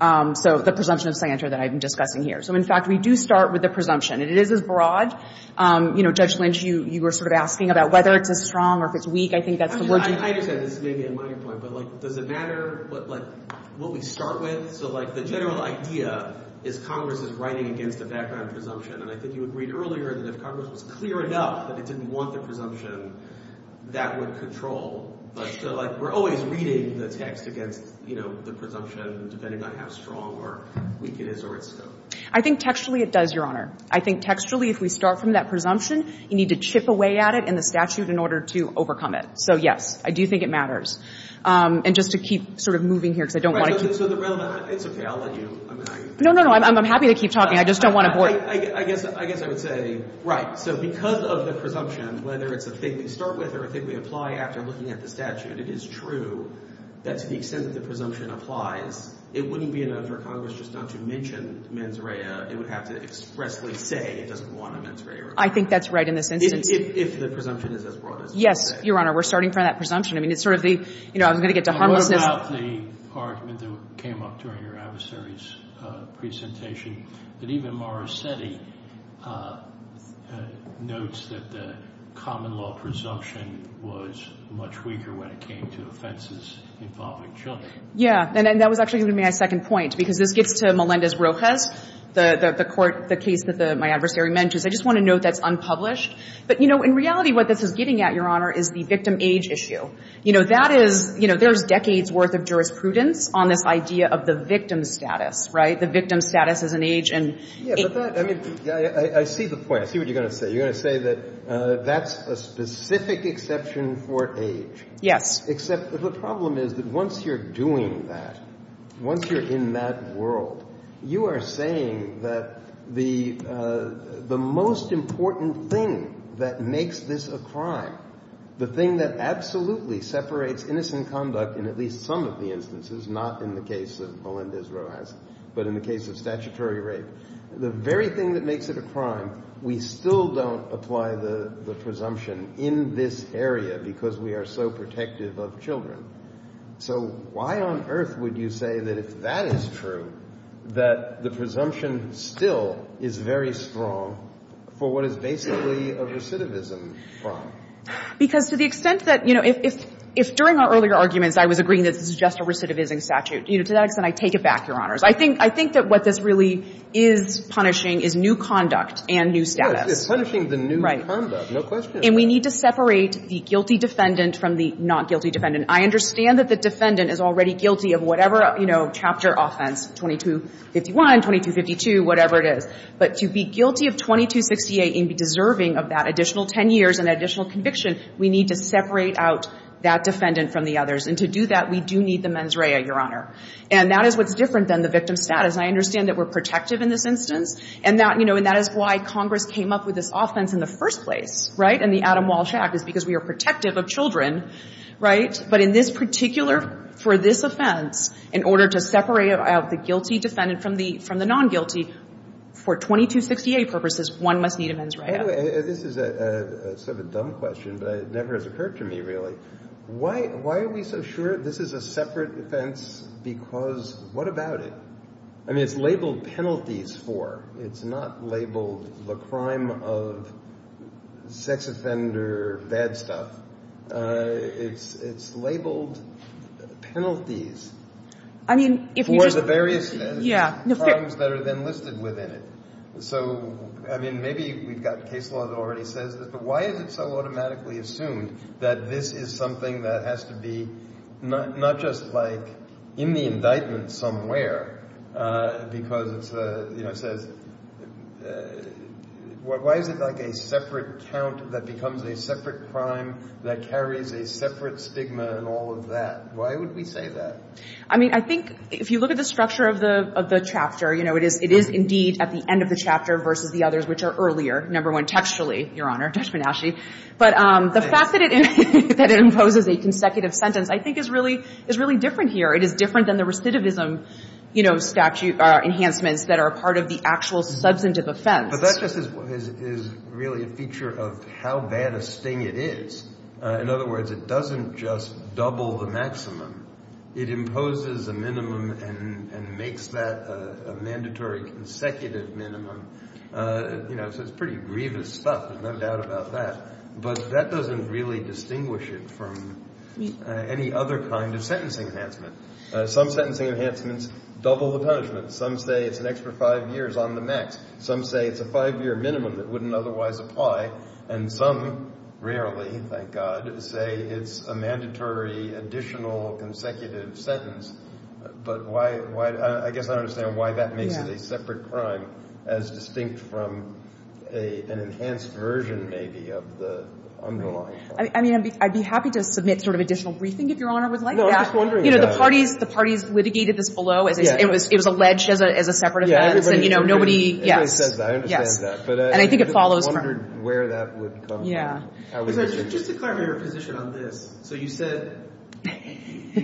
so the presumption of sanctuary that I've been discussing here. So, in fact, we do start with the presumption. It is as broad. You know, Judge Lynch, you were sort of asking about whether it's as strong or if it's weak. I think that's the word you used. I understand. This may be a minor point, but, like, does it matter? Like, what we start with? So, like, the general idea is Congress is writing against a background presumption, and I think you agreed earlier that if Congress was clear enough that it didn't want the presumption, that would control. But, like, we're always reading the text against, you know, the presumption, depending on how strong or weak it is or its scope. I think textually it does, Your Honor. I think textually, if we start from that presumption, you need to chip away at it in the statute in order to overcome it. So, yes, I do think it matters. And just to keep sort of moving here, because I don't want to keep going. So the relevant — it's okay. I'll let you — I mean, I — No, no, no. I'm happy to keep talking. I just don't want to bore you. I guess I would say, right, so because of the presumption, whether it's a thing we start with or a thing we apply after looking at the statute, it is true that to the extent that the presumption applies, it wouldn't be enough for Congress just not to mention mens rea. It would have to expressly say it doesn't want a mens rea requirement. I think that's right in this instance. If the presumption is as broad as that. Yes, Your Honor. We're starting from that presumption. I mean, it's sort of the — you know, I was going to get to harmlessness. I wrote about the argument that came up during your adversary's presentation that even Morosetti notes that the common law presumption was much weaker when it came to offenses involving children. Yeah, and that was actually going to be my second point, because this gets to Melendez-Rojas, the court — the case that my adversary mentions. I just want to note that's unpublished. But, you know, in reality what this is getting at, Your Honor, is the victim age issue. You know, that is — you know, there's decades' worth of jurisprudence on this idea of the victim status, right? The victim status as an age and age. Yeah, but that — I mean, I see the point. I see what you're going to say. You're going to say that that's a specific exception for age. Yes. Except the problem is that once you're doing that, once you're in that world, you are saying that the most important thing that makes this a crime, the thing that absolutely separates innocent conduct in at least some of the instances, not in the case of Melendez-Rojas, but in the case of statutory rape, the very thing that makes it a crime, we still don't apply the presumption in this area because we are so protective of children. So why on earth would you say that if that is true, that the presumption still is very strong for what is basically a recidivism crime? Because to the extent that — you know, if during our earlier arguments I was agreeing that this is just a recidivism statute, you know, to that extent, I take it back, Your Honors. I think that what this really is punishing is new conduct and new status. It's punishing the new conduct. Right. No question about it. And we need to separate the guilty defendant from the not guilty defendant. And I understand that the defendant is already guilty of whatever, you know, chapter offense, 2251, 2252, whatever it is. But to be guilty of 2268 and be deserving of that additional 10 years and additional conviction, we need to separate out that defendant from the others. And to do that, we do need the mens rea, Your Honor. And that is what's different than the victim status. I understand that we're protective in this instance. And that — you know, and that is why Congress came up with this offense in the first place, right, in the Adam Walsh Act, is because we are protective of children, right? But in this particular — for this offense, in order to separate out the guilty defendant from the non-guilty, for 2268 purposes, one must need a mens rea. Anyway, this is sort of a dumb question, but it never has occurred to me, really. Why are we so sure this is a separate offense? Because what about it? I mean, it's labeled penalties for. It's not labeled the crime of sex offender bad stuff. It's labeled penalties. I mean, if you just — For the various crimes that are then listed within it. So, I mean, maybe we've got case law that already says this, but why is it so automatically assumed that this is something that has to be not just, like, in the indictment somewhere because it's, you know, says — why is it like a separate count that becomes a separate crime that carries a separate stigma and all of that? Why would we say that? I mean, I think if you look at the structure of the chapter, you know, it is indeed at the end of the chapter versus the others, which are earlier, number one, textually, Your Honor, Judge Menasche. But the fact that it imposes a consecutive sentence, I think, is really different here. It is different than the recidivism, you know, statute — enhancements that are part of the actual substantive offense. But that just is really a feature of how bad a sting it is. In other words, it doesn't just double the maximum. It imposes a minimum and makes that a mandatory consecutive minimum. You know, so it's pretty grievous stuff, no doubt about that. But that doesn't really distinguish it from any other kind of sentencing enhancement. Some sentencing enhancements double the punishment. Some say it's an extra five years on the max. Some say it's a five-year minimum that wouldn't otherwise apply. And some, rarely, thank God, say it's a mandatory additional consecutive sentence. But why — I guess I don't understand why that makes it a separate crime as distinct from an enhanced version, maybe, of the underlying one. I mean, I'd be happy to submit sort of additional briefing, if Your Honor would like that. No, I'm just wondering about it. You know, the parties litigated this below. It was alleged as a separate offense. And, you know, nobody — yes. Everybody says that. I understand that. And I think it follows from — I wondered where that would come from. Yeah. Just to clarify your position on this. So you said you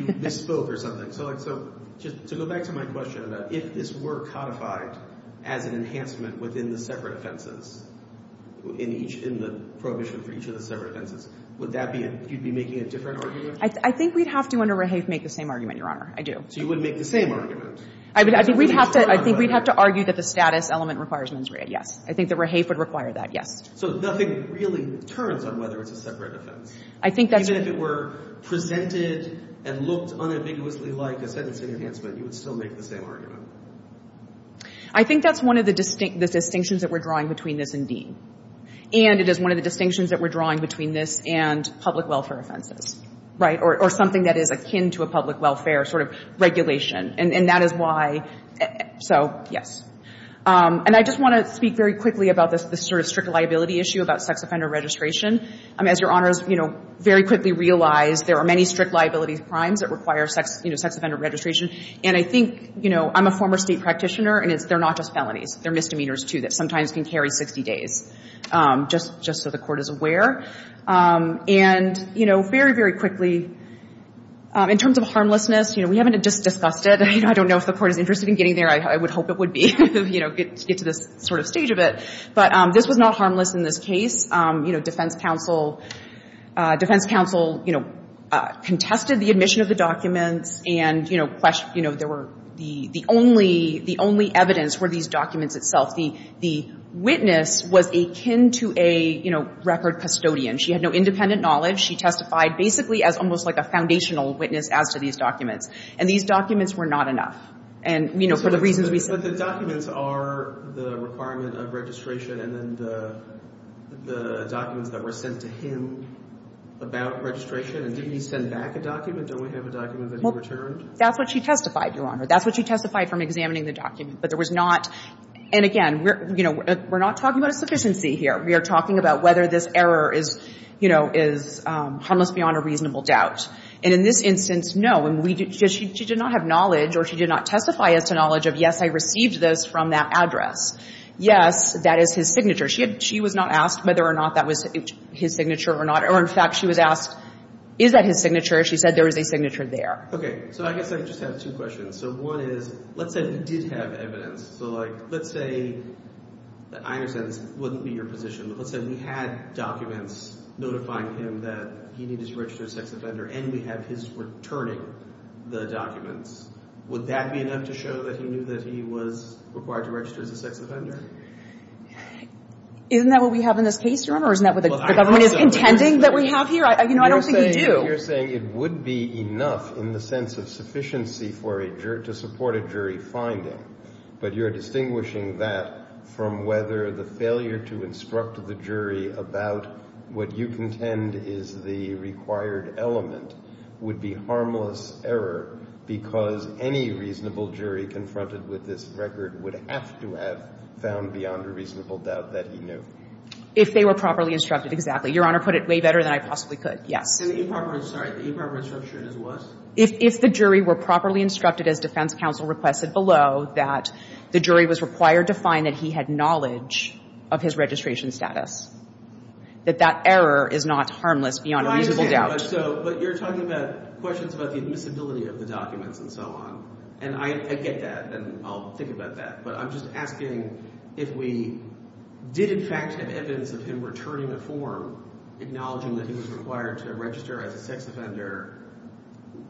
misspoke or something. So just to go back to my question about if this were codified as an enhancement within the separate offenses, in the prohibition for each of the separate offenses, would that be — you'd be making a different argument? I think we'd have to, under Rehave, make the same argument, Your Honor. I do. So you wouldn't make the same argument? I think we'd have to argue that the status element requires mens rea. Yes. I think that Rehave would require that. Yes. So nothing really turns on whether it's a separate offense? I think that's — Even if it were presented and looked unambiguously like a sentencing enhancement, you would still make the same argument? I think that's one of the distinctions that we're drawing between this and Dean. And it is one of the distinctions that we're drawing between this and public welfare offenses. Right? Or something that is akin to a public welfare sort of regulation. And that is why — so, yes. And I just want to speak very quickly about this sort of strict liability issue about sex offender registration. As Your Honor has, you know, very quickly realized, there are many strict liability crimes that require, you know, sex offender registration. And I think, you know, I'm a former state practitioner, and they're not just felonies. They're misdemeanors, too, that sometimes can carry 60 days, just so the Court is aware. And, you know, very, very quickly, in terms of harmlessness, you know, we haven't just discussed it. I don't know if the Court is interested in getting there. I would hope it would be, you know, to get to this sort of stage of it. But this was not harmless in this case. You know, defense counsel — defense counsel, you know, contested the admission of the documents. And, you know, there were — the only evidence were these documents itself. The witness was akin to a, you know, record custodian. She had no independent knowledge. She testified basically as almost like a foundational witness as to these documents. And these documents were not enough. And, you know, for the reasons we said. But the documents are the requirement of registration, and then the documents that were sent to him about registration. And didn't he send back a document? Don't we have a document that he returned? Well, that's what she testified, Your Honor. That's what she testified from examining the document. But there was not — and again, you know, we're not talking about a sufficiency here. We are talking about whether this error is, you know, is harmless beyond a reasonable doubt. And in this instance, no. She did not have knowledge or she did not testify as to knowledge of, yes, I received this from that address. Yes, that is his signature. She was not asked whether or not that was his signature or not. Or, in fact, she was asked, is that his signature? She said there is a signature there. Okay. So I guess I just have two questions. So one is, let's say you did have evidence. So, like, let's say — I understand this wouldn't be your position, but let's say we had documents notifying him that he needed to register as a sex offender and we have his returning the documents. Would that be enough to show that he knew that he was required to register as a sex offender? Isn't that what we have in this case, Your Honor, or isn't that what the government is intending that we have here? You know, I don't think we do. You're saying it would be enough in the sense of sufficiency for a — to support a jury finding. But you're distinguishing that from whether the failure to instruct the jury about what you contend is the required element would be harmless error because any reasonable jury confronted with this record would have to have found beyond a reasonable doubt that he knew. If they were properly instructed, exactly. Your Honor put it way better than I possibly could. Yes. And the improper — sorry. The improper instruction is what? If the jury were properly instructed, as defense counsel requested below, that the jury was required to find that he had knowledge of his registration status, that that error is not harmless beyond a reasonable doubt. But you're talking about questions about the admissibility of the documents and so on. And I get that, and I'll think about that. But I'm just asking if we did, in fact, have evidence of him returning a form acknowledging that he was required to register as a sex offender,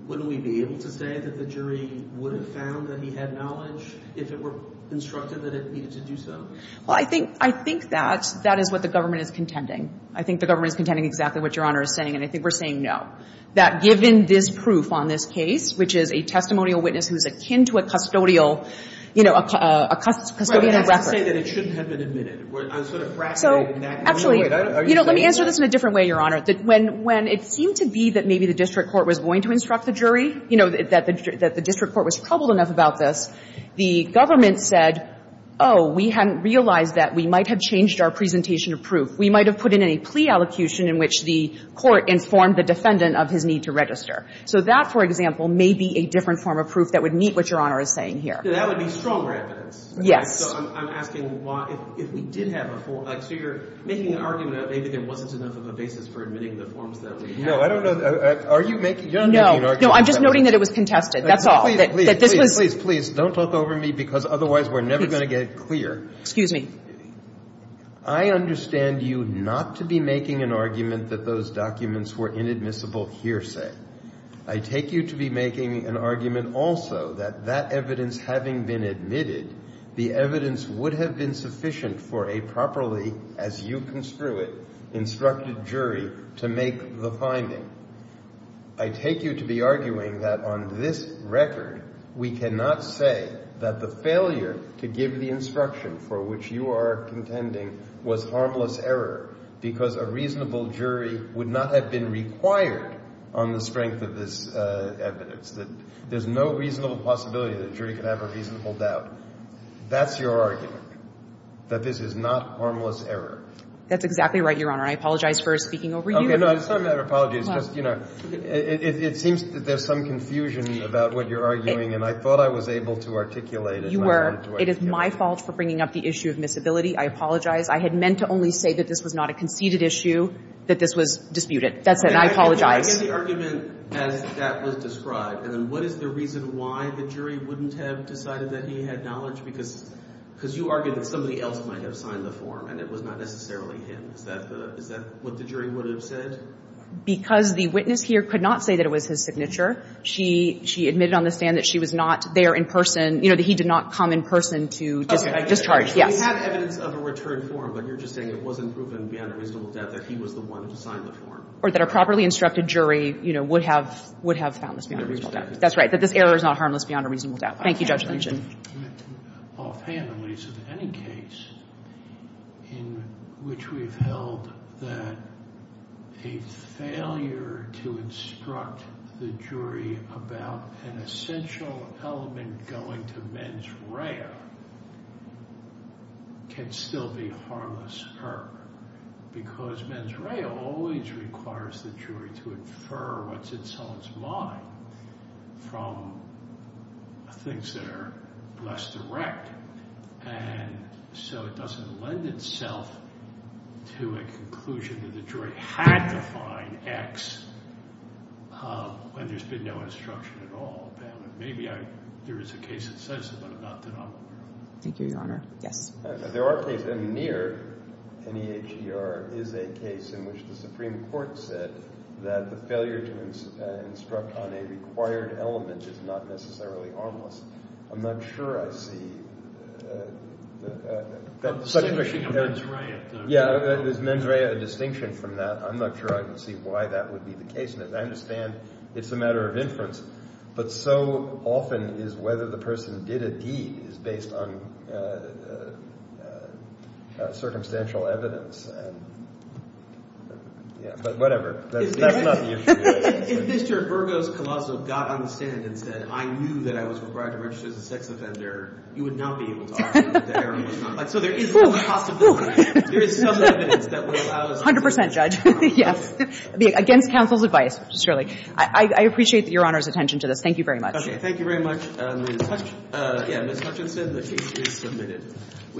wouldn't we be able to say that the jury would have found that he had knowledge if it were instructed that it needed to do so? Well, I think — I think that that is what the government is contending. I think the government is contending exactly what Your Honor is saying, and I think we're saying no. That given this proof on this case, which is a testimonial witness who's akin to a custodial — you know, a custodian of records — Well, I'm not saying that it shouldn't have been admitted. I'm sort of frustrated in that — So, actually — Are you saying — You know, let me answer this in a different way, Your Honor. When it seemed to be that maybe the district court was going to instruct the jury, you know, that the district court was troubled enough about this, the government said, oh, we hadn't realized that. We might have changed our presentation of proof. We might have put in a plea allocution in which the court informed the defendant of his need to register. So that, for example, may be a different form of proof that would meet what Your Honor is saying here. That would be strong evidence. Yes. So I'm asking why — if we did have a — so you're making an argument that maybe there wasn't enough of a basis for admitting the forms that we had. No. I don't know — are you making — No. No, I'm just noting that it was contested. That's all. That this was — Please, please, please. Don't talk over me, because otherwise we're never going to get it clear. Excuse me. I understand you not to be making an argument that those documents were inadmissible hearsay. I take you to be making an argument also that that evidence having been admitted, the evidence would have been sufficient for a properly, as you construe it, instructed jury to make the finding. I take you to be arguing that on this record we cannot say that the failure to give the instruction for which you are contending was harmless error because a reasonable jury would not have been required on the strength of this evidence, that there's no reasonable possibility that a jury could have a reasonable doubt. That's your argument, that this is not harmless error. That's exactly right, Your Honor. I apologize for speaking over you. Okay. No, it's not a matter of apologies. It's just, you know, it seems that there's some confusion about what you're arguing, and I thought I was able to articulate it. You were. It is my fault for bringing up the issue of miscibility. I apologize. I had meant to only say that this was not a conceded issue, that this was disputed. That's it. And I apologize. I get the argument as that was described, and then what is the reason why the jury wouldn't have decided that he had knowledge? Because you argued that somebody else might have signed the form, and it was not necessarily him. Is that what the jury would have said? Because the witness here could not say that it was his signature. She admitted on the stand that she was not there in person, you know, that he did not come in person to discharge. Yes. We have evidence of a returned form, but you're just saying it wasn't proven beyond a reasonable doubt that he was the one who signed the form. Or that a properly instructed jury, you know, would have found this beyond a reasonable doubt. That's right. That this error is not harmless beyond a reasonable doubt. Thank you, Judge Lynch. Offhand, at least in any case in which we've held that a failure to instruct the jury about an essential element going to mens rea can still be harmless error, because mens rea always requires the jury to infer what's in someone's mind from things that are less direct. And so it doesn't lend itself to a conclusion that the jury had to find X when there's been no instruction at all. Maybe there is a case that says that, but I'm not that aware of. Thank you, Your Honor. Yes. There are cases, and near an EHER is a case in which the Supreme Court said that the failure to instruct on a required element is not necessarily harmless. I'm not sure I see such a question. Yeah, is mens rea a distinction from that? I'm not sure I can see why that would be the case. And as I understand, it's a matter of inference. But so often is whether the person did a deed is based on circumstantial evidence. But whatever. That's not the issue. If Mr. Burgos-Colosso got on the stand and said, I knew that I was required to register as a sex offender, you would not be able to argue that the error was not. So there is a possibility. There is some evidence that would allow us to do that. 100 percent, Judge. Yes. Against counsel's advice, just really. I appreciate Your Honor's attention to this. Thank you very much. Okay. Thank you very much. Ms. Hutchinson, the case is submitted.